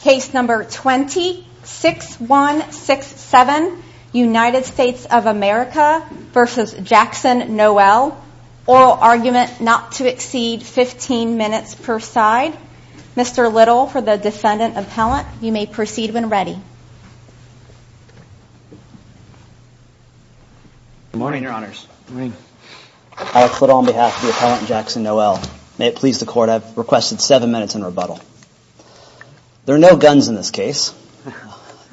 Case number 20-6167 United States of America v. Jackson Noel Oral argument not to exceed 15 minutes per side Mr. Little for the defendant appellant you may proceed when ready Good morning your honors Alex Little on behalf of the appellant Jackson Noel May it please the court I have requested 7 minutes in rebuttal There are no guns in this case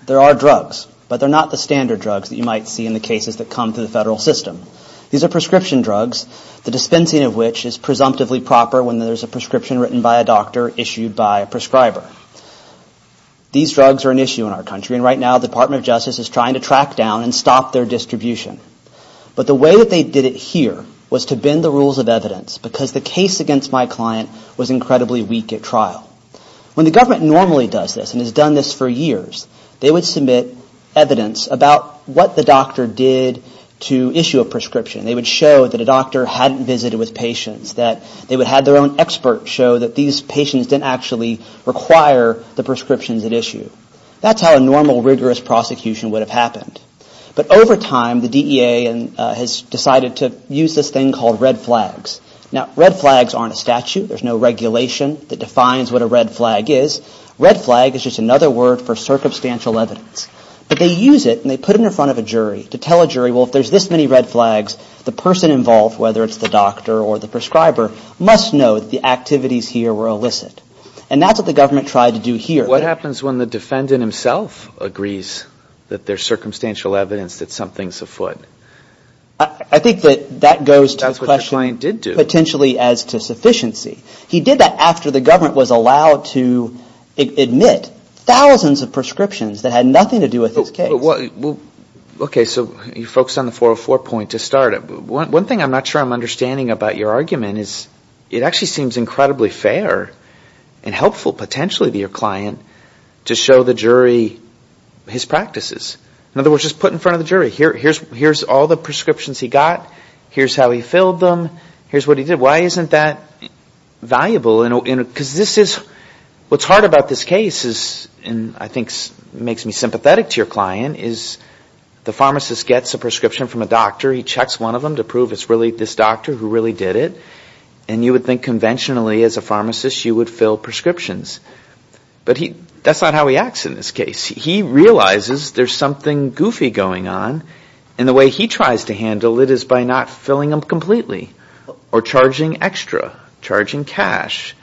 there are drugs but they're not the standard drugs that you might see in the cases that come to the federal system These are prescription drugs the dispensing of which is presumptively proper when there's a prescription written by a doctor issued by a prescriber These drugs are an issue in our country and right now the Department of Justice is trying to track down and stop their distribution But the way that they did it here was to bend the rules of evidence because the case against my client was incredibly weak at trial When the government normally does this and has done this for years they would submit evidence about what the doctor did to issue a prescription They would show that a doctor hadn't visited with patients that they would have their own expert show that these patients didn't actually require the prescriptions at issue That's how a normal rigorous prosecution would have happened But over time the DEA has decided to use this thing called red flags Now red flags aren't a statute there's no regulation that defines what a red flag is Red flag is just another word for circumstantial evidence But they use it and they put it in front of a jury to tell a jury well if there's this many red flags the person involved whether it's the doctor or the prescriber must know that the activities here were illicit And that's what the government tried to do here What happens when the defendant himself agrees that there's circumstantial evidence that something's afoot? I think that that goes to the question potentially as to sufficiency He did that after the government was allowed to admit thousands of prescriptions that had nothing to do with his case Okay so you focused on the 404 point to start One thing I'm not sure I'm understanding about your argument is it actually seems incredibly fair and helpful potentially to your client to show the jury his practices In other words just put in front of the jury here's all the prescriptions he got here's how he filled them here's what he did Why isn't that valuable? Because this is what's hard about this case is and I think makes me sympathetic to your client The pharmacist gets a prescription from a doctor he checks one of them to prove it's really this doctor who really did it And you would think conventionally as a pharmacist you would fill prescriptions But that's not how he acts in this case he realizes there's something goofy going on And the way he tries to handle it is by not filling them completely or charging extra charging cash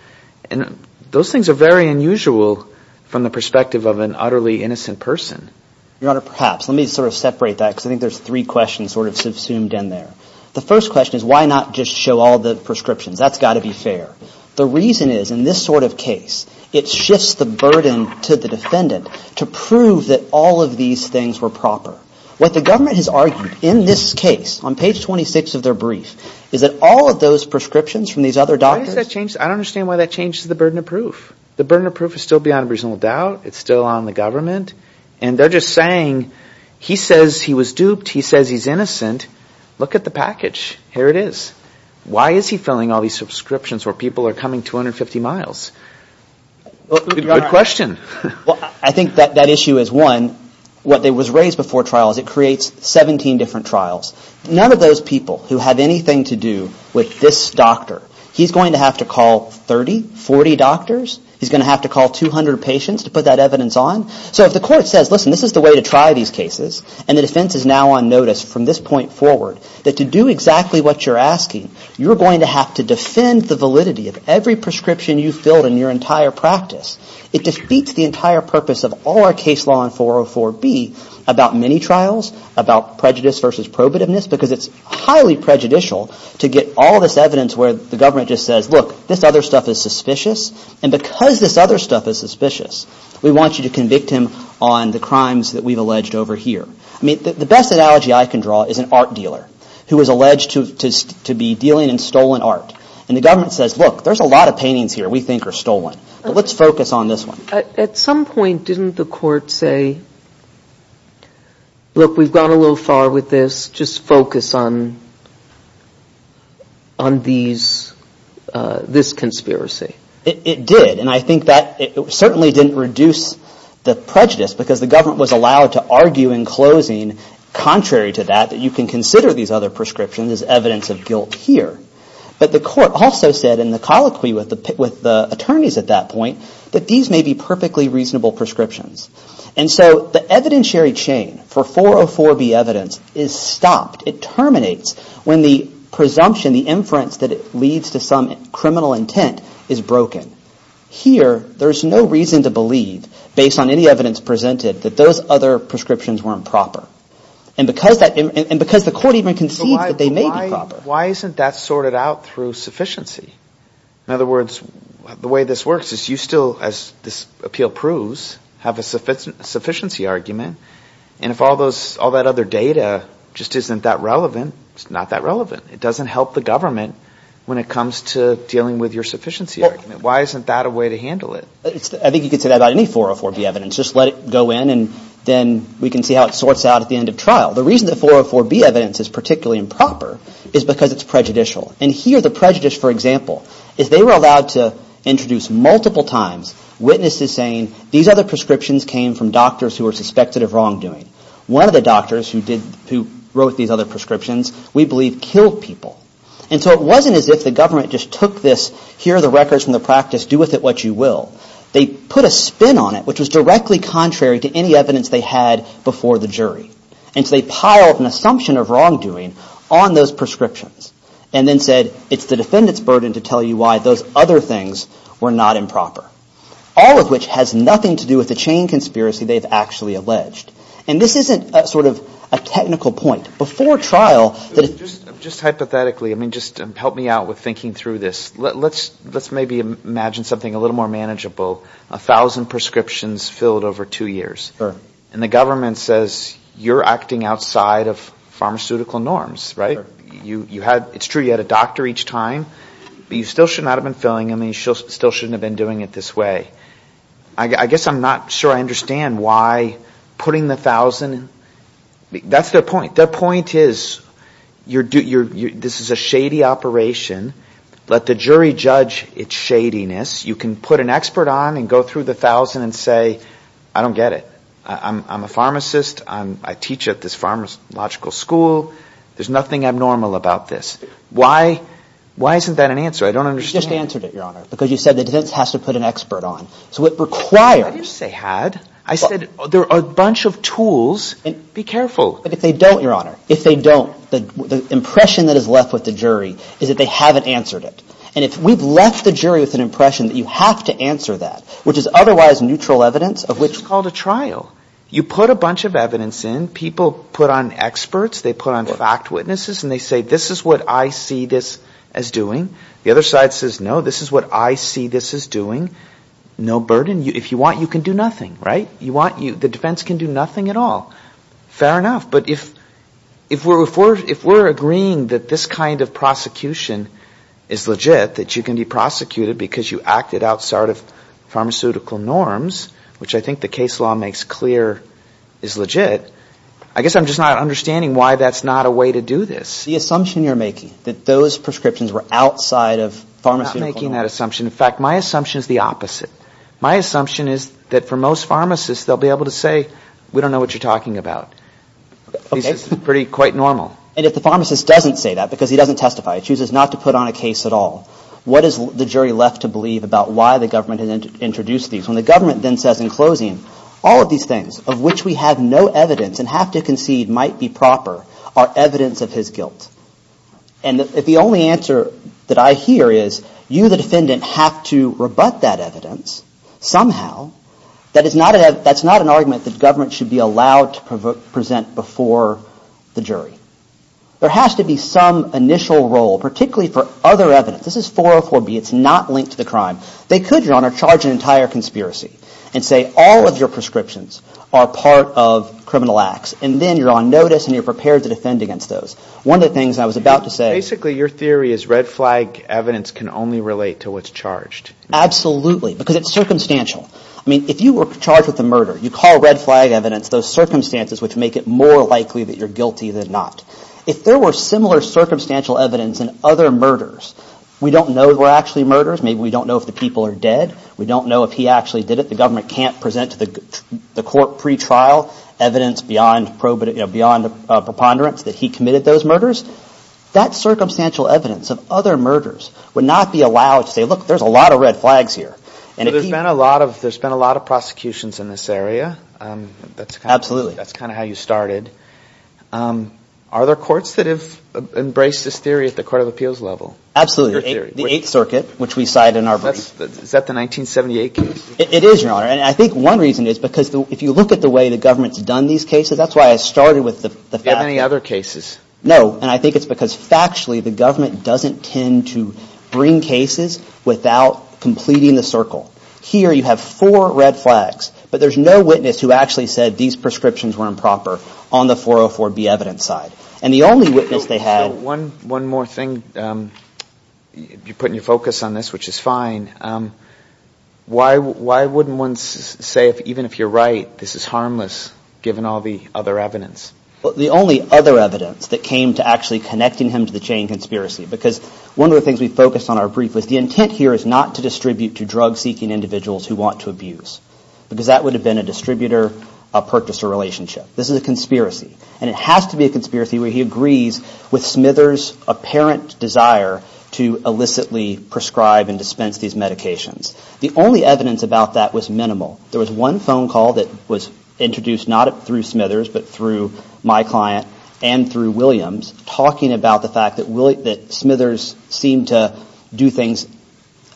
And those things are very unusual from the perspective of an utterly innocent person Your honor perhaps let me sort of separate that because I think there's three questions sort of subsumed in there The first question is why not just show all the prescriptions that's got to be fair The reason is in this sort of case it shifts the burden to the defendant to prove that all of these things were proper What the government has argued in this case on page 26 of their brief is that all of those prescriptions from these other doctors Why does that change? I don't understand why that changes the burden of proof The burden of proof is still beyond reasonable doubt it's still on the government And they're just saying he says he was duped he says he's innocent look at the package here it is Why is he filling all these subscriptions where people are coming 250 miles? Good question I think that issue is one what was raised before trial is it creates 17 different trials None of those people who have anything to do with this doctor he's going to have to call 30, 40 doctors He's going to have to call 200 patients to put that evidence on So if the court says listen this is the way to try these cases and the defense is now on notice from this point forward That to do exactly what you're asking you're going to have to defend the validity of every prescription you filled in your entire practice It defeats the entire purpose of all our case law in 404B about many trials about prejudice versus probativeness Because it's highly prejudicial to get all this evidence where the government just says look this other stuff is suspicious And because this other stuff is suspicious we want you to convict him on the crimes that we've alleged over here I mean the best analogy I can draw is an art dealer who was alleged to be dealing in stolen art And the government says look there's a lot of paintings here we think are stolen but let's focus on this one At some point didn't the court say look we've gone a little far with this just focus on this conspiracy It did and I think that certainly didn't reduce the prejudice because the government was allowed to argue in closing Contrary to that that you can consider these other prescriptions as evidence of guilt here But the court also said in the colloquy with the attorneys at that point that these may be perfectly reasonable prescriptions And so the evidentiary chain for 404B evidence is stopped It terminates when the presumption, the inference that it leads to some criminal intent is broken Here there's no reason to believe based on any evidence presented that those other prescriptions were improper And because the court even concedes that they may be proper Why isn't that sorted out through sufficiency? In other words the way this works is you still as this appeal proves have a sufficiency argument And if all that other data just isn't that relevant it's not that relevant It doesn't help the government when it comes to dealing with your sufficiency argument Why isn't that a way to handle it? I think you could say that about any 404B evidence just let it go in and then we can see how it sorts out at the end of trial The reason that 404B evidence is particularly improper is because it's prejudicial And here the prejudice for example is they were allowed to introduce multiple times witnesses saying These other prescriptions came from doctors who were suspected of wrongdoing One of the doctors who wrote these other prescriptions we believe killed people And so it wasn't as if the government just took this here are the records from the practice do with it what you will They put a spin on it which was directly contrary to any evidence they had before the jury And so they piled an assumption of wrongdoing on those prescriptions And then said it's the defendant's burden to tell you why those other things were not improper All of which has nothing to do with the chain conspiracy they've actually alleged And this isn't sort of a technical point before trial Just hypothetically I mean just help me out with thinking through this Let's maybe imagine something a little more manageable A thousand prescriptions filled over two years And the government says you're acting outside of pharmaceutical norms right? It's true you had a doctor each time but you still should not have been filling them And you still shouldn't have been doing it this way I guess I'm not sure I understand why putting the thousand That's their point their point is This is a shady operation Let the jury judge it's shadiness You can put an expert on and go through the thousand and say I don't get it I'm a pharmacist I teach at this pharmacological school There's nothing abnormal about this Why isn't that an answer I don't understand You just answered it your honor because you said the defense has to put an expert on Why did you say had? I said there are a bunch of tools be careful But if they don't your honor The impression that is left with the jury is that they haven't answered it And if we've left the jury with an impression that you have to answer that Which is otherwise neutral evidence This is called a trial you put a bunch of evidence in People put on experts they put on fact witnesses And they say this is what I see this as doing The other side says no this is what I see this as doing No burden if you want you can do nothing The defense can do nothing at all Fair enough but if we're agreeing That this kind of prosecution is legit That you can be prosecuted because you acted outside of Pharmaceutical norms which I think the case law makes clear Is legit I guess I'm just not understanding Why that's not a way to do this The assumption you're making that those prescriptions were outside of Pharmaceutical norms My assumption is that for most pharmacists they'll be able to say We don't know what you're talking about This is pretty quite normal And if the pharmacist doesn't say that because he doesn't testify He chooses not to put on a case at all What is the jury left to believe about why the government Has introduced these when the government then says in closing All of these things of which we have no evidence and have to concede Might be proper are evidence of his guilt And if the only answer that I hear is You the defendant have to rebut that evidence Somehow that's not an argument That government should be allowed to present before The jury there has to be some Initial role particularly for other evidence This is 404B it's not linked to the crime They could your honor charge an entire conspiracy And say all of your prescriptions are part of criminal acts And then you're on notice and you're prepared to defend against those One of the things I was about to say Basically your theory is red flag evidence can only relate to what's charged Absolutely because it's circumstantial I mean if you were charged with a murder you call red flag evidence Those circumstances which make it more likely that you're guilty than not If there were similar circumstantial evidence in other murders We don't know if they were actually murders Maybe we don't know if the people are dead We don't know if he actually did it The government can't present to the court pre-trial evidence Beyond preponderance that he committed those murders That circumstantial evidence of other murders would not be allowed To say look there's a lot of red flags here There's been a lot of prosecutions in this area Absolutely That's kind of how you started Are there courts that have embraced this theory at the court of appeals level Absolutely the 8th circuit which we cite in our brief Is that the 1978 case It is your honor and I think one reason is because If you look at the way the government's done these cases That's why I started with the fact No and I think it's because factually the government doesn't tend to bring cases Without completing the circle Here you have four red flags But there's no witness who actually said these prescriptions were improper On the 404B evidence side One more thing You're putting your focus on this which is fine Why wouldn't one say even if you're right This is harmless given all the other evidence The only other evidence that came to actually connecting him to the chain conspiracy Because one of the things we focused on in our brief was The intent here is not to distribute to drug seeking individuals who want to abuse Because that would have been a distributor-purchaser relationship This is a conspiracy And it has to be a conspiracy where he agrees with Smithers apparent desire To illicitly prescribe and dispense these medications There was one phone call that was introduced Not through Smithers but through my client and through Williams Talking about the fact that Smithers seemed to do things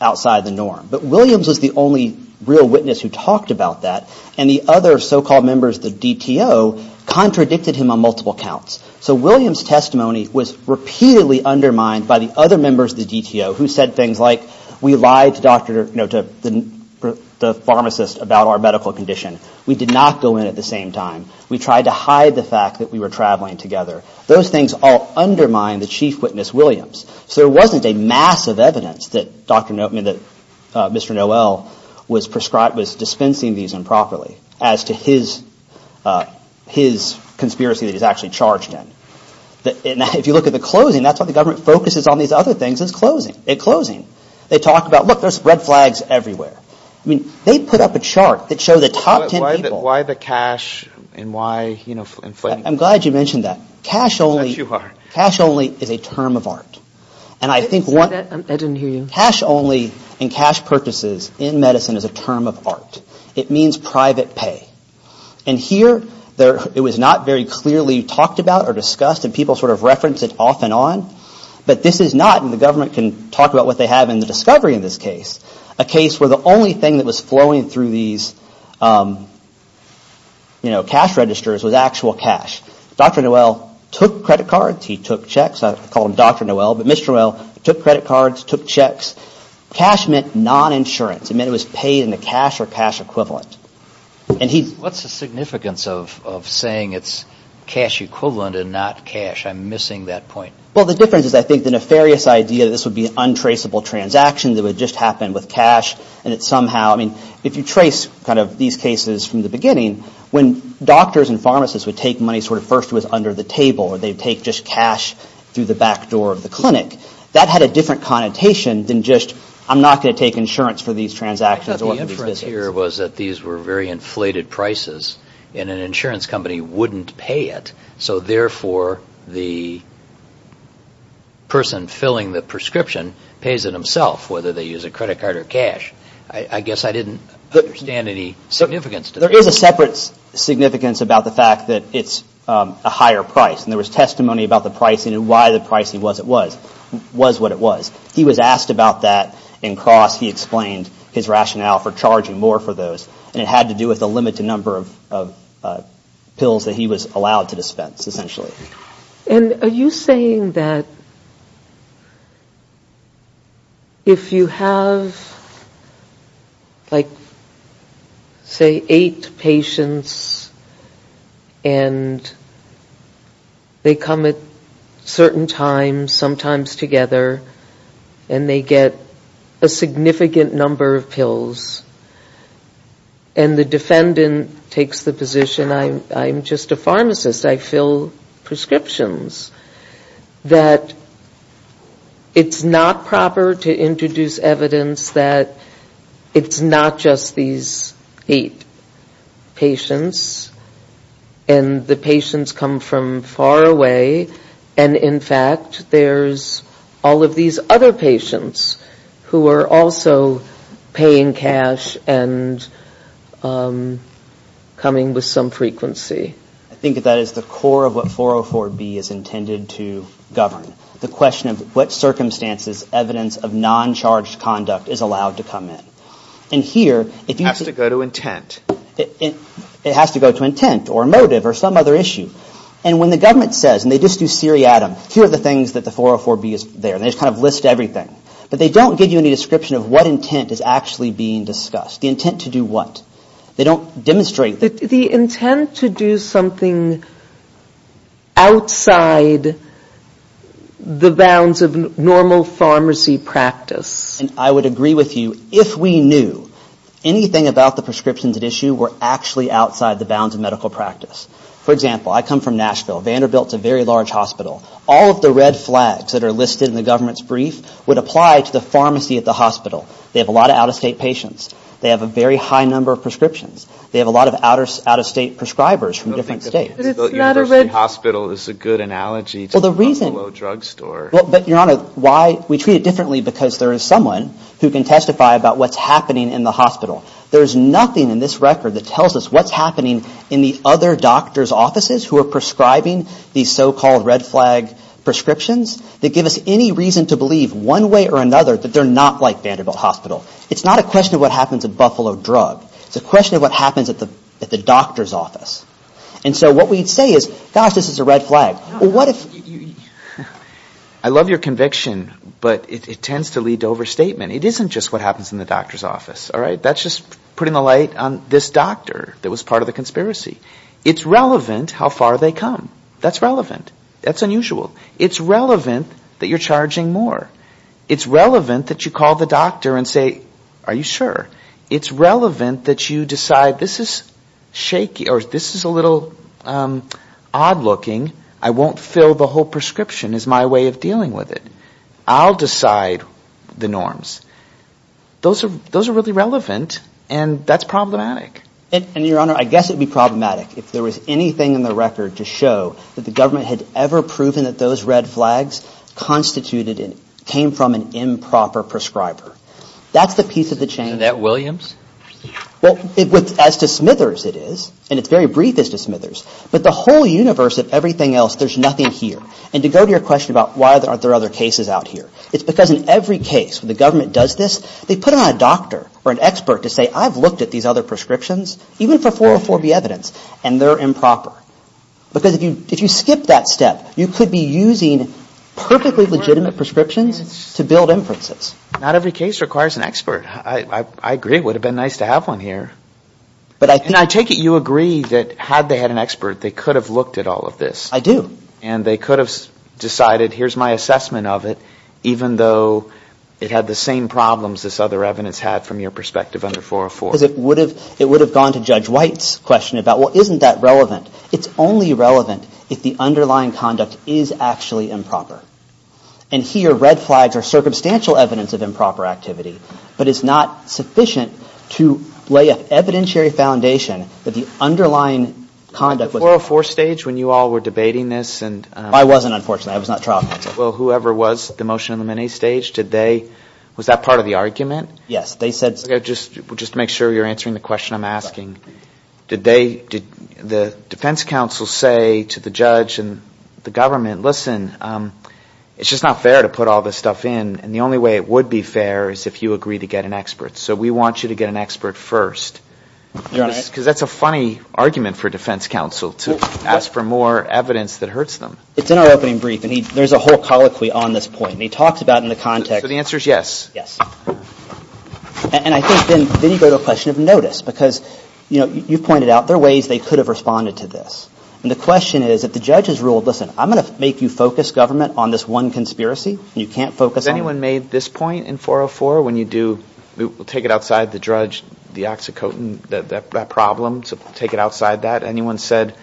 outside the norm But Williams was the only real witness who talked about that And the other so-called members of the DTO contradicted him on multiple counts So Williams' testimony was repeatedly undermined by the other members of the DTO Who said things like We lied to the pharmacist about our medical condition We did not go in at the same time We tried to hide the fact that we were traveling together Those things all undermined the chief witness Williams So there wasn't a mass of evidence that Mr. Noel Was dispensing these improperly As to his conspiracy that he's actually charged in If you look at the closing, that's what the government focuses on These other things is closing They talk about, look, there's red flags everywhere They put up a chart that shows the top ten people I'm glad you mentioned that Cash only is a term of art Cash only and cash purchases in medicine is a term of art It means private pay And here it was not very clearly talked about or discussed And people sort of referenced it off and on But this is not, and the government can talk about what they have In the discovery of this case A case where the only thing that was flowing through these Cash registers was actual cash Dr. Noel took credit cards, he took checks I call him Dr. Noel But Mr. Noel took credit cards, took checks Cash meant non-insurance It meant it was paid in the cash or cash equivalent What's the significance of saying it's cash equivalent and not cash? I'm missing that point Well, the difference is I think the nefarious idea That this would be an untraceable transaction That would just happen with cash If you trace these cases from the beginning When doctors and pharmacists would take money First it was under the table Or they'd take just cash through the back door of the clinic That had a different connotation than just I'm not going to take insurance for these transactions I thought the inference here was that these were very inflated prices And an insurance company wouldn't pay it So therefore the person filling the prescription Pays it himself Whether they use a credit card or cash I guess I didn't understand any significance to that There is a separate significance about the fact that it's a higher price And there was testimony about the pricing and why the pricing was what it was He was asked about that And Cross, he explained his rationale for charging more for those And it had to do with the limited number of pills That he was allowed to dispense essentially And are you saying that If you have Like Say eight patients And they come at certain times Sometimes together And they get a significant number of pills And the defendant takes the position I'm just a pharmacist I fill prescriptions That it's not proper To introduce evidence that It's not just these eight patients And the patients come from far away And in fact there's All of these other patients Who are also paying cash And coming with some frequency I think that is the core of what 404B is intended to govern The question of what circumstances Evidence of non-charged conduct is allowed to come in And here It has to go to intent It has to go to intent or motive or some other issue And when the government says And they just do seriatim Here are the things that the 404B is there And they just kind of list everything But they don't give you any description Of what intent is actually being discussed The intent to do what They don't demonstrate The intent to do something outside The bounds of normal pharmacy practice And I would agree with you If we knew anything about the prescriptions at issue Were actually outside the bounds of medical practice For example, I come from Nashville Vanderbilt is a very large hospital All of the red flags that are listed in the government's brief Would apply to the pharmacy at the hospital They have a lot of out-of-state patients They have a very high number of prescriptions They have a lot of out-of-state prescribers from different states Vanderbilt University Hospital is a good analogy To Buffalo Drugstore We treat it differently because there is someone Who can testify about what is happening in the hospital There is nothing in this record that tells us what is happening In the other doctor's offices who are prescribing These so-called red flag prescriptions That give us any reason to believe one way or another That they are not like Vanderbilt Hospital It's not a question of what happens at Buffalo Drug It's a question of what happens at the doctor's office And so what we say is, gosh, this is a red flag I love your conviction, but it tends to lead to overstatement It isn't just what happens in the doctor's office That's just putting the light on this doctor That was part of the conspiracy It's relevant how far they come That's relevant, that's unusual It's relevant that you're charging more It's relevant that you call the doctor and say, are you sure? It's relevant that you decide, this is shaky Or this is a little odd looking I won't fill the whole prescription as my way of dealing with it I'll decide the norms Those are really relevant and that's problematic And your honor, I guess it would be problematic If there was anything in the record to show That the government had ever proven that those red flags Constituted and came from an improper prescriber That's the piece of the chain And that Williams? As to Smithers it is, and it's very brief as to Smithers But the whole universe of everything else, there's nothing here And to go to your question about why aren't there other cases out here It's because in every case where the government does this They put on a doctor or an expert to say, I've looked at these other prescriptions Even for 404B evidence, and they're improper Because if you skip that step You could be using perfectly legitimate prescriptions To build inferences Not every case requires an expert I agree, it would have been nice to have one here And I take it you agree that had they had an expert They could have looked at all of this And they could have decided, here's my assessment of it Even though it had the same problems this other evidence had From your perspective under 404 Because it would have gone to Judge White's question Well, isn't that relevant? It's only relevant if the underlying conduct is actually improper And here red flags are circumstantial evidence of improper activity But it's not sufficient to lay an evidentiary foundation That the underlying conduct was... Was it the 404 stage when you all were debating this? I wasn't, unfortunately. I was not trial counsel. Well, whoever was the motion in the minis stage, was that part of the argument? Yes. Just to make sure you're answering the question I'm asking Did the defense counsel say to the judge and the government Listen, it's just not fair to put all this stuff in And the only way it would be fair is if you agree to get an expert So we want you to get an expert first Because that's a funny argument for defense counsel To ask for more evidence that hurts them It's in our opening brief and there's a whole colloquy on this point And he talks about in the context... So the answer is yes? Yes. And I think then you go to a question of notice Because, you know, you've pointed out there are ways they could have responded to this And the question is if the judge has ruled Listen, I'm going to make you focus government on this one conspiracy You can't focus on... Has anyone made this point in 404 when you do... We'll take it outside the judge, the oxycontin, that problem Take it outside that. Anyone said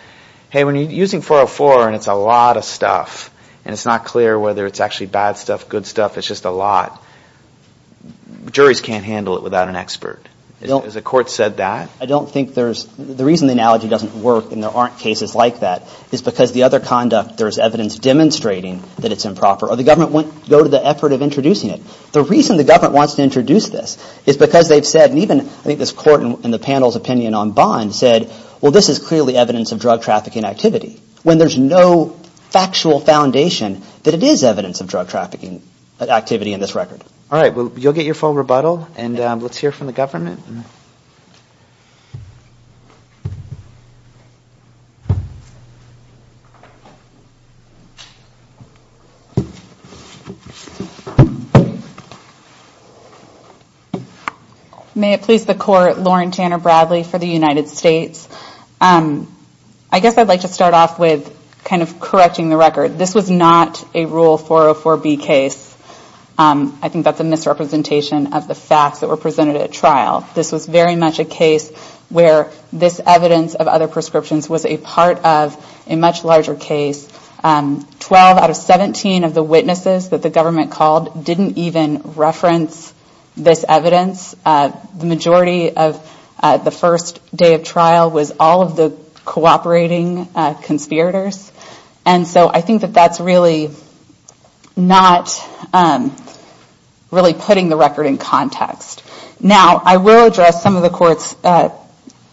Hey, when you're using 404 and it's a lot of stuff And it's not clear whether it's actually bad stuff, good stuff It's just a lot Juries can't handle it without an expert. Has the court said that? I don't think there's... The reason the analogy doesn't work And there aren't cases like that is because the other conduct There's evidence demonstrating that it's improper Or the government won't go to the effort of introducing it The reason the government wants to introduce this is because they've said And even I think this court in the panel's opinion on Bond said Well, this is clearly evidence of drug trafficking activity When there's no factual foundation That it is evidence of drug trafficking activity in this record All right, you'll get your full rebuttal And let's hear from the government May it please the court, Lauren Tanner Bradley for the United States I guess I'd like to start off with kind of correcting the record This was not a Rule 404B case I think that's a misrepresentation of the facts That were presented at trial This was very much a case where this evidence of other prescriptions Was a part of a much larger case 12 out of 17 of the witnesses that the government called Didn't even reference this evidence The majority of the first day of trial Was all of the cooperating conspirators And so I think that that's really Not really putting the record in context Now, I will address some of the court's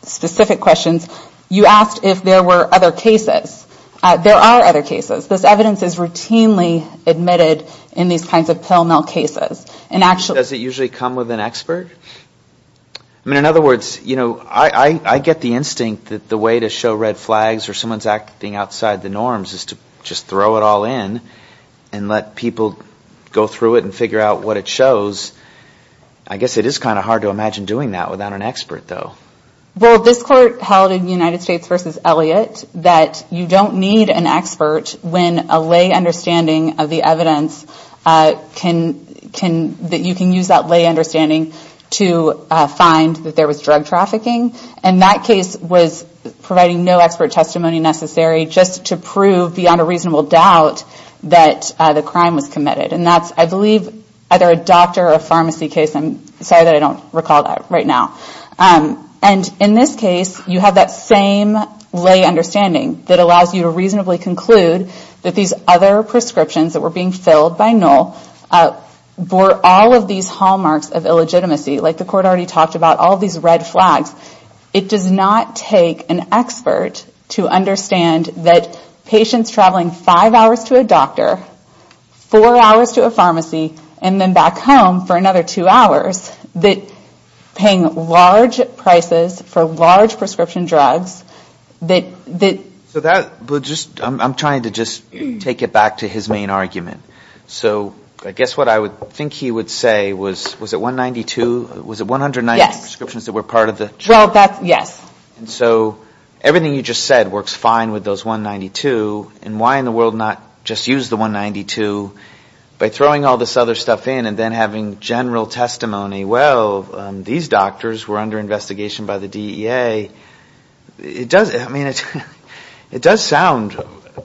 specific questions You asked if there were other cases There are other cases This evidence is routinely admitted in these kinds of pill mill cases Does it usually come with an expert? I mean, in other words I get the instinct that the way to show red flags Or someone's acting outside the norms Is to just throw it all in And let people go through it and figure out what it shows I guess it is kind of hard to imagine doing that without an expert, though Well, this court held in United States v. Elliott That you don't need an expert When a lay understanding of the evidence That you can use that lay understanding To find that there was drug trafficking And that case was providing no expert testimony necessary Just to prove beyond a reasonable doubt That the crime was committed And that's, I believe, either a doctor or a pharmacy case I'm sorry that I don't recall that right now And in this case, you have that same lay understanding That allows you to reasonably conclude That these other prescriptions that were being filled by Noel Bore all of these hallmarks of illegitimacy Like the court already talked about All these red flags It does not take an expert to understand That patients traveling five hours to a doctor Four hours to a pharmacy And then back home for another two hours That paying large prices for large prescription drugs That... I'm trying to just take it back to his main argument So I guess what I think he would say Was it 192 prescriptions that were part of the drug? Yes So everything you just said works fine with those 192 And why in the world not just use the 192 By throwing all this other stuff in And then having general testimony Well, these doctors were under investigation by the DEA It does sound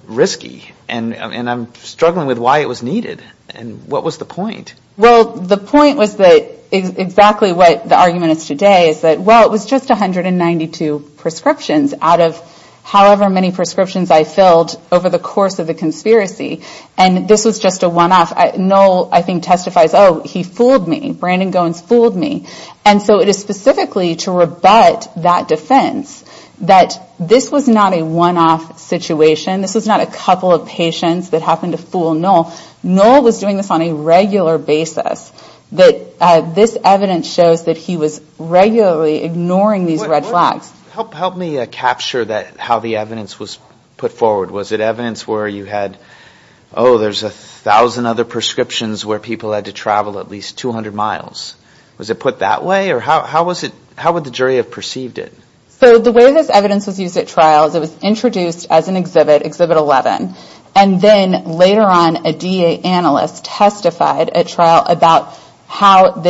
risky And I'm struggling with why it was needed And what was the point? Well, the point was that Exactly what the argument is today Is that, well, it was just 192 prescriptions Out of however many prescriptions I filled Over the course of the conspiracy And this was just a one-off Noel, I think, testifies, oh, he fooled me Brandon Goins fooled me And so it is specifically to rebut that defense That this was not a one-off situation This was not a couple of patients that happened to fool Noel Noel was doing this on a regular basis That this evidence shows that he was regularly ignoring these red flags Help me capture how the evidence was put forward Was it evidence where you had, oh, there's a thousand other prescriptions Where people had to travel at least 200 miles Was it put that way? Or how would the jury have perceived it? So the way this evidence was used at trials It was introduced as an exhibit, Exhibit 11 And then later on a DEA analyst testified at trial About how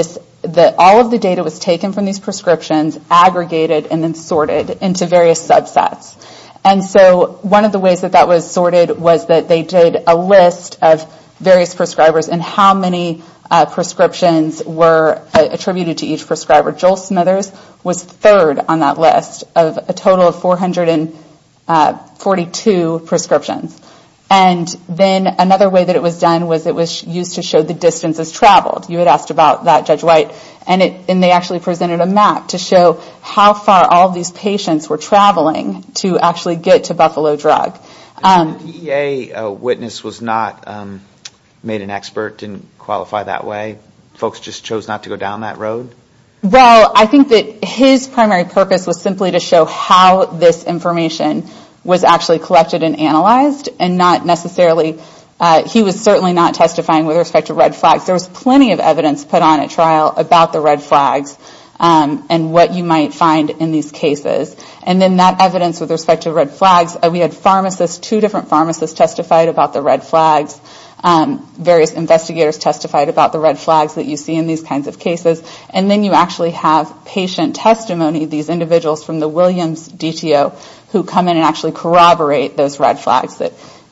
all of the data was taken from these prescriptions Aggregated and then sorted into various subsets And so one of the ways that that was sorted Was that they did a list of various prescribers And how many prescriptions were attributed to each prescriber Joel Smithers was third on that list Of a total of 442 prescriptions And then another way that it was done Was it was used to show the distances traveled You had asked about that, Judge White And they actually presented a map to show How far all of these patients were traveling To actually get to Buffalo Drug The DEA witness was not made an expert Didn't qualify that way? Folks just chose not to go down that road? Well, I think that his primary purpose was simply to show How this information was actually collected and analyzed And not necessarily, he was certainly not testifying With respect to red flags There was plenty of evidence put on at trial About the red flags and what you might find in these cases And then that evidence with respect to red flags We had two different pharmacists testified about the red flags Various investigators testified about the red flags That you see in these kinds of cases And then you actually have patient testimony These individuals from the Williams DTO Who come in and actually corroborate those red flags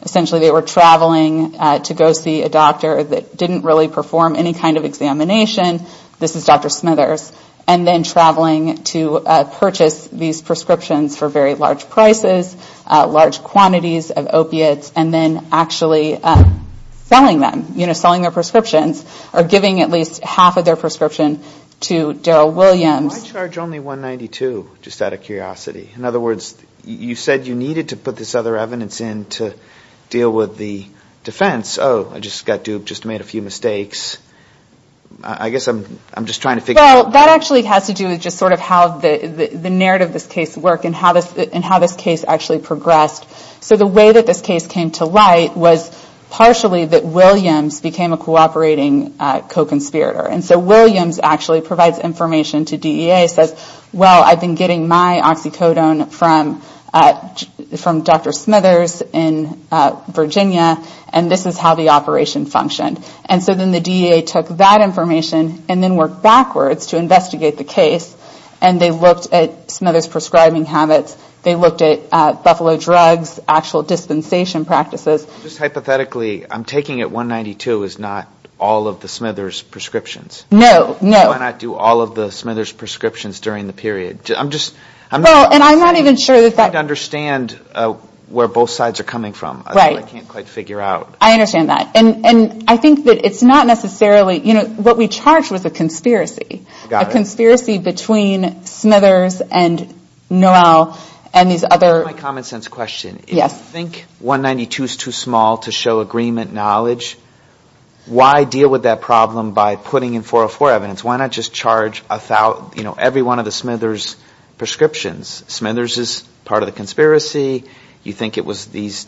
Essentially they were traveling to go see a doctor That didn't really perform any kind of examination This is Dr. Smithers And then traveling to purchase these prescriptions For very large prices, large quantities of opiates And then actually selling them You know, selling their prescriptions Or giving at least half of their prescription to Daryl Williams Why charge only 192, just out of curiosity? In other words, you said you needed to put this other evidence in To deal with the defense Oh, I just got duped, just made a few mistakes I guess I'm just trying to figure out Well, that actually has to do with just sort of how the narrative of this case worked And how this case actually progressed So the way that this case came to light Was partially that Williams became a cooperating co-conspirator And so Williams actually provides information to DEA And DEA says, well, I've been getting my oxycodone From Dr. Smithers in Virginia And this is how the operation functioned And so then the DEA took that information And then worked backwards to investigate the case And they looked at Smithers' prescribing habits They looked at Buffalo drugs, actual dispensation practices Just hypothetically, I'm taking it 192 is not all of the Smithers' prescriptions No, no Why not do all of the Smithers' prescriptions during the period Well, and I'm not even sure that that I don't understand where both sides are coming from I can't quite figure out I understand that, and I think that it's not necessarily You know, what we charged was a conspiracy A conspiracy between Smithers and Noel and these other Here's my common sense question If you think 192 is too small to show agreement knowledge Why deal with that problem by putting in 404 evidence Why not just charge every one of the Smithers' prescriptions Smithers is part of the conspiracy You think it was this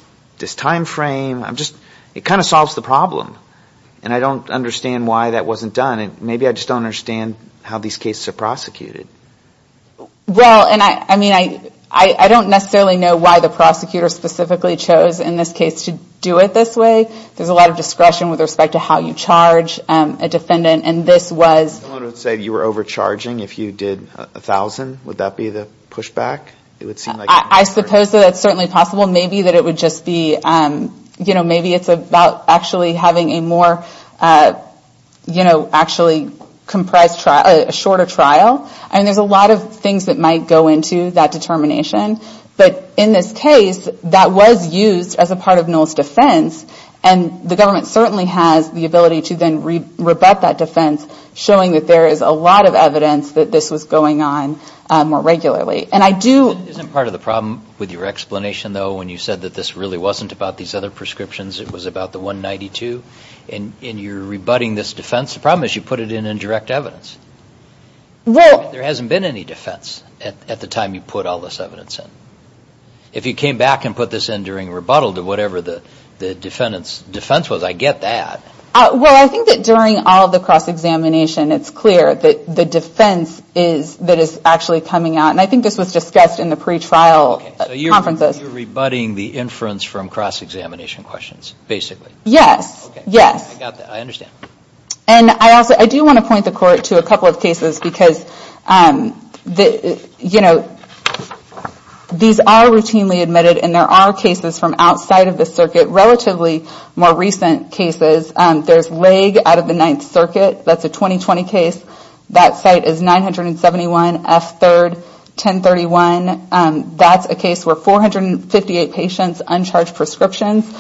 time frame It kind of solves the problem And I don't understand why that wasn't done Maybe I just don't understand how these cases are prosecuted Well, and I don't necessarily know why the prosecutor Specifically chose in this case to do it this way There's a lot of discretion with respect to how you charge a defendant And this was Someone would say you were overcharging if you did 1,000 Would that be the pushback I suppose that's certainly possible Maybe it's about actually having a more A shorter trial There's a lot of things that might go into that determination But in this case, that was used as a part of Noel's defense And the government certainly has the ability to then Rebut that defense Showing that there is a lot of evidence that this was going on more regularly And I do Isn't part of the problem with your explanation, though When you said that this really wasn't about these other prescriptions It was about the 192 And you're rebutting this defense The problem is you put it in indirect evidence There hasn't been any defense At the time you put all this evidence in If you came back and put this in during rebuttal To whatever the defendant's defense was, I get that Well, I think that during all the cross-examination It's clear that the defense that is actually coming out And I think this was discussed in the pre-trial conferences So you're rebutting the inference from cross-examination questions, basically Yes I do want to point the court to a couple of cases Because These are routinely admitted And there are cases from outside of the circuit Relatively more recent cases There's Laig out of the 9th circuit That's a 2020 case That site is 971 F3 1031 That's a case where 458 patients With uncharged prescriptions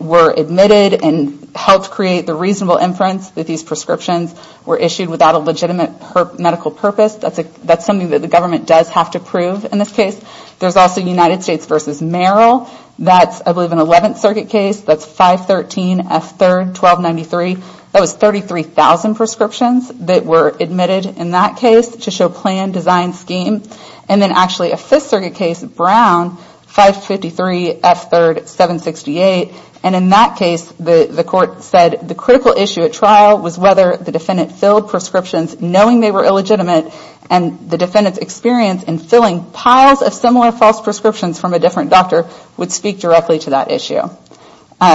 were admitted And helped create the reasonable inference That these prescriptions were issued without a legitimate medical purpose That's something that the government does have to prove in this case There's also United States v. Merrill That's, I believe, an 11th circuit case That's 513 F3 1293 That was 33,000 prescriptions that were admitted in that case To show plan, design, scheme And then actually a 5th circuit case, Brown 553 F3 768 And in that case, the court said The critical issue at trial was whether the defendant filled prescriptions Knowing they were illegitimate And the defendant's experience in filling piles of similar false prescriptions From a different doctor would speak directly to that issue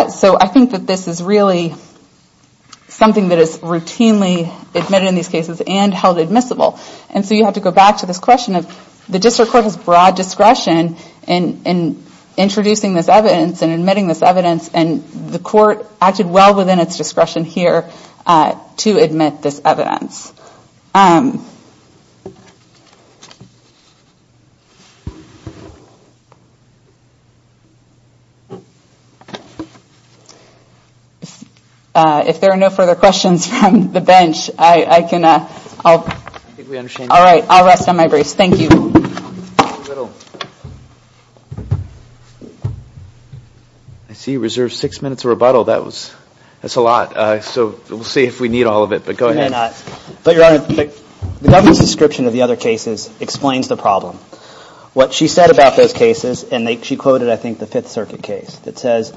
So I think that this is really Something that is routinely admitted in these cases And held admissible And so you have to go back to this question of The district court has broad discretion in introducing this evidence And admitting this evidence And the court acted well within its discretion here To admit this evidence If there are no further questions From the bench I'll rest on my brace Thank you I see you reserved Six minutes of rebuttal That's a lot So we'll see if we need all of it But go ahead But your honor The government's description of the other cases explains the problem What she said about those cases And she quoted I think the 5th circuit case That says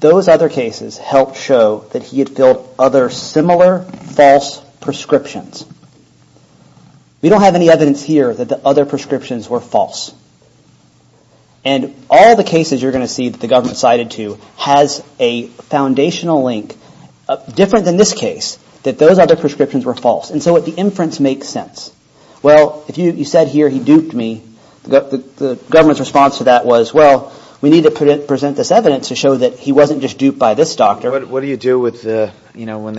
those other cases helped show That he had filled other similar false prescriptions We don't have any evidence here That the other prescriptions were false And all the cases you're going to see That the government cited to Has a foundational link Different than this case That those other prescriptions were false And so the inference makes sense Well you said here he duped me The government's response to that was Well we need to present this evidence To show that he wasn't just duped by this doctor What do you do when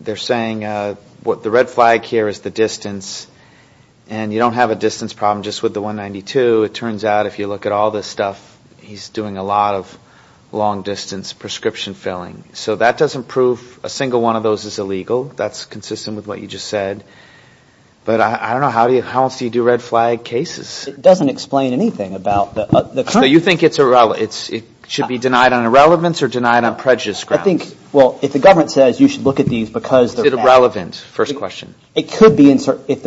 they're saying The red flag here is the distance And you don't have a distance problem just with the 192 It turns out if you look at all this stuff He's doing a lot of long distance prescription filling So that doesn't prove a single one of those is illegal That's consistent with what you just said But I don't know, how else do you do red flag cases? It doesn't explain anything So you think it should be denied on irrelevance Or denied on prejudice grounds? Is it irrelevant? It could be if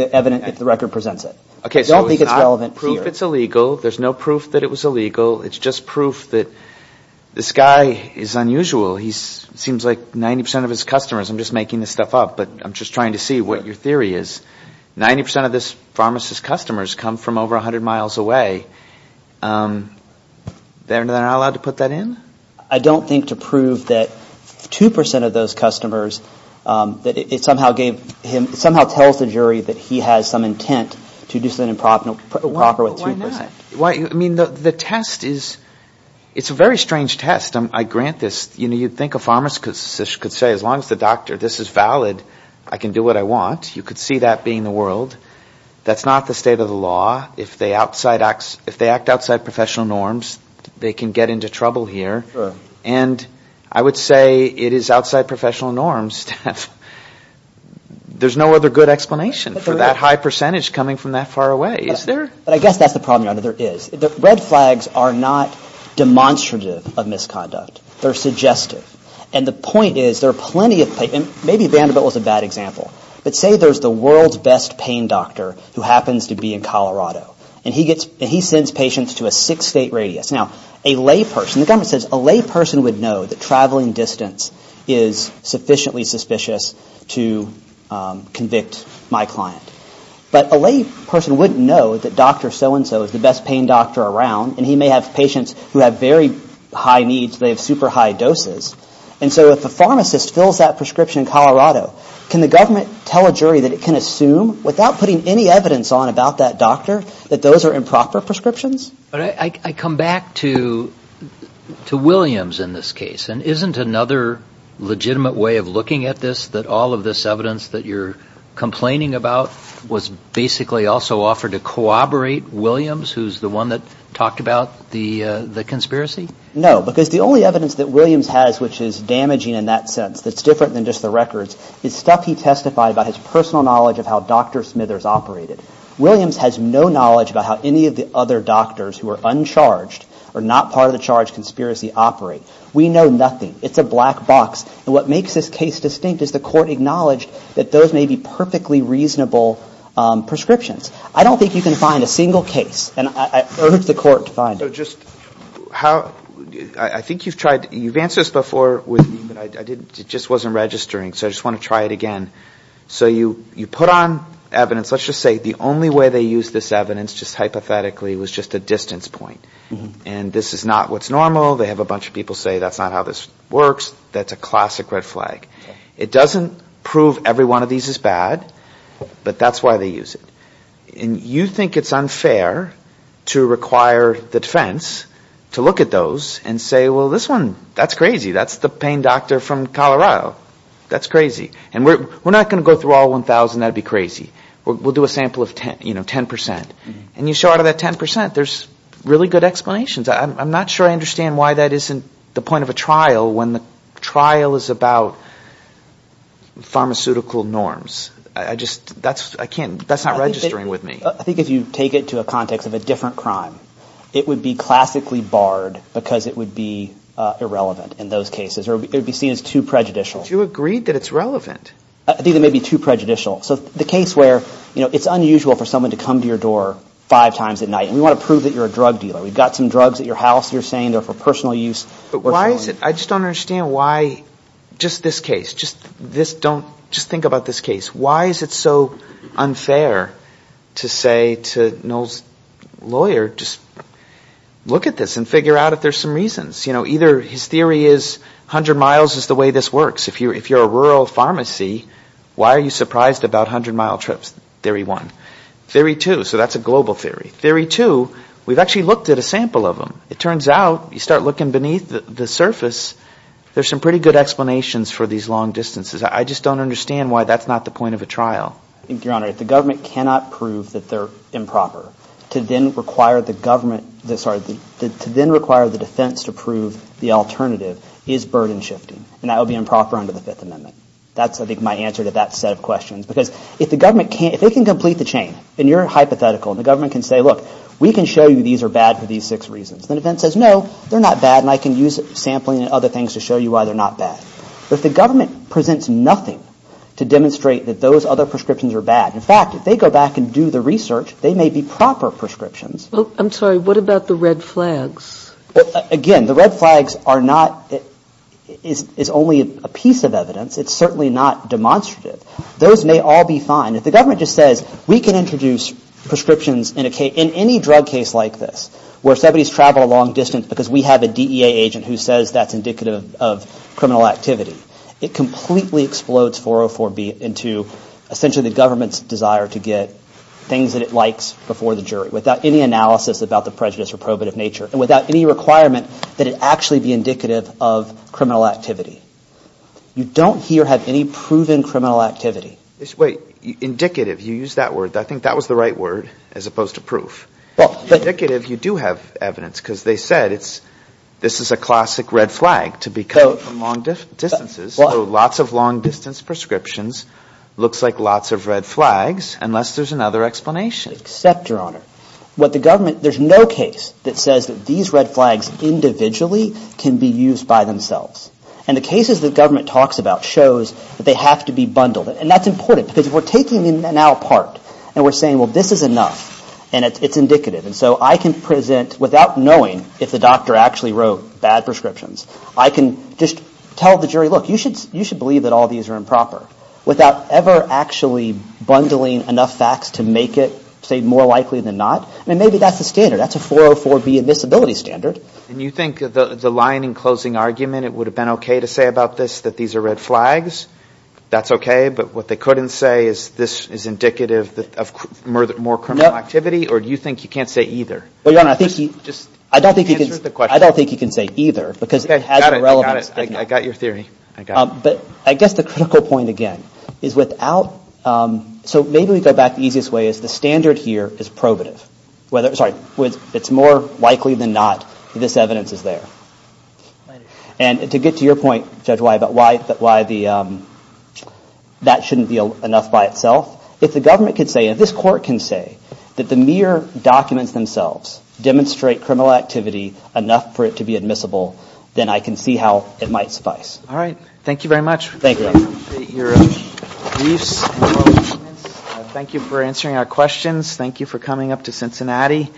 the record presents it I don't think it's relevant here There's no proof that it was illegal It's just proof that this guy is unusual He seems like 90% of his customers I'm just making this stuff up I'm just trying to see what your theory is 90% of this pharmacist's customers Come from over 100 miles away They're not allowed to put that in? I don't think to prove that 2% of those customers That it somehow tells the jury That he has some intent to do something improper Why not? It's a very strange test You'd think a pharmacist could say As long as the doctor, this is valid, I can do what I want You could see that being the world That's not the state of the law If they act outside professional norms They can get into trouble here And I would say it is outside professional norms There's no other good explanation For that high percentage coming from that far away But I guess that's the problem Red flags are not demonstrative of misconduct They're suggestive Maybe Vanderbilt was a bad example But say there's the world's best pain doctor Who happens to be in Colorado And he sends patients to a 6 state radius A lay person would know that traveling distance Is sufficiently suspicious to convict my client But a lay person wouldn't know That Dr. So-and-so is the best pain doctor around And he may have patients who have very high needs They have super high doses And so if a pharmacist fills that prescription in Colorado Can the government tell a jury that it can assume Without putting any evidence on about that doctor That those are improper prescriptions? I come back to Williams in this case And isn't another legitimate way of looking at this That all of this evidence that you're complaining about Was basically also offered to corroborate Williams Who's the one that talked about the conspiracy? No, because the only evidence that Williams has Which is damaging in that sense That's different than just the records Is stuff he testified about his personal knowledge Of how Dr. Smithers operated Williams has no knowledge about how any of the other doctors Who are uncharged or not part of the charge conspiracy operate We know nothing. It's a black box And what makes this case distinct is the court acknowledged That those may be perfectly reasonable prescriptions I don't think you can find a single case And I urge the court to find it I think you've answered this before It just wasn't registering, so I just want to try it again So you put on evidence Let's just say the only way they used this evidence Just hypothetically was just a distance point And this is not what's normal They have a bunch of people say that's not how this works That's a classic red flag It doesn't prove every one of these is bad But that's why they use it And you think it's unfair to require the defense To look at those and say Well, this one, that's crazy That's the pain doctor from Colorado That's crazy And we're not going to go through all 1,000 That would be crazy We'll do a sample of 10% And you show out of that 10% There's really good explanations I'm not sure I understand why that isn't the point of a trial When the trial is about pharmaceutical norms That's not registering with me I think if you take it to a context of a different crime It would be classically barred Because it would be irrelevant in those cases Or it would be seen as too prejudicial But you agreed that it's relevant I think it may be too prejudicial So the case where it's unusual for someone to come to your door five times at night And we want to prove that you're a drug dealer We've got some drugs at your house that you're saying are for personal use I just don't understand why, just this case Just think about this case Why is it so unfair to say to Noel's lawyer Just look at this and figure out if there's some reasons Either his theory is 100 miles is the way this works If you're a rural pharmacy Why are you surprised about 100 mile trips, theory one Theory two, so that's a global theory Theory two, we've actually looked at a sample of them It turns out, you start looking beneath the surface There's some pretty good explanations for these long distances I just don't understand why that's not the point of a trial Your Honor, the government cannot prove that they're improper To then require the government To then require the defense to prove the alternative Is burden shifting, and that would be improper under the Fifth Amendment That's, I think, my answer to that set of questions Because if they can complete the chain, and you're hypothetical And the government can say, look, we can show you these are bad for these six reasons And the defense says, no, they're not bad And I can use sampling and other things to show you why they're not bad But if the government presents nothing to demonstrate That those other prescriptions are bad In fact, if they go back and do the research, they may be proper prescriptions I'm sorry, what about the red flags? Again, the red flags are not It's only a piece of evidence, it's certainly not demonstrative Those may all be fine If the government just says, we can introduce prescriptions In any drug case like this, where somebody's traveled a long distance Because we have a DEA agent who says that's indicative of criminal activity It completely explodes 404B into Essentially the government's desire to get Things that it likes before the jury Without any analysis about the prejudice or probative nature And without any requirement that it actually be indicative of criminal activity You don't here have any proven criminal activity Indicative, you use that word I think that was the right word, as opposed to proof Indicative, you do have evidence Because they said, this is a classic red flag To be coming from long distances So lots of long distance prescriptions Looks like lots of red flags, unless there's another explanation Except, Your Honor, what the government There's no case that says that these red flags individually Can be used by themselves And the cases the government talks about shows that they have to be bundled And that's important, because we're taking them now apart And we're saying, well this is enough, and it's indicative And so I can present, without knowing if the doctor actually wrote bad prescriptions I can just tell the jury, look, you should believe that all these are improper Without ever actually bundling enough facts To make it, say, more likely than not I mean, maybe that's the standard, that's a 404B admissibility standard And you think the line in closing argument It would have been okay to say about this, that these are red flags That's okay, but what they couldn't say Is this is indicative of more criminal activity Or do you think you can't say either? Well, Your Honor, I don't think you can say either Because it has irrelevance But I guess the critical point again Is without, so maybe we go back the easiest way Is the standard here is probative It's more likely than not that this evidence is there And to get to your point, Judge White About why that shouldn't be enough by itself If the government could say, and this Court can say That the mere documents themselves Demonstrate criminal activity enough for it to be admissible Then I can see how it might suffice Thank you very much Thank you for answering our questions Thank you for coming up to Cincinnati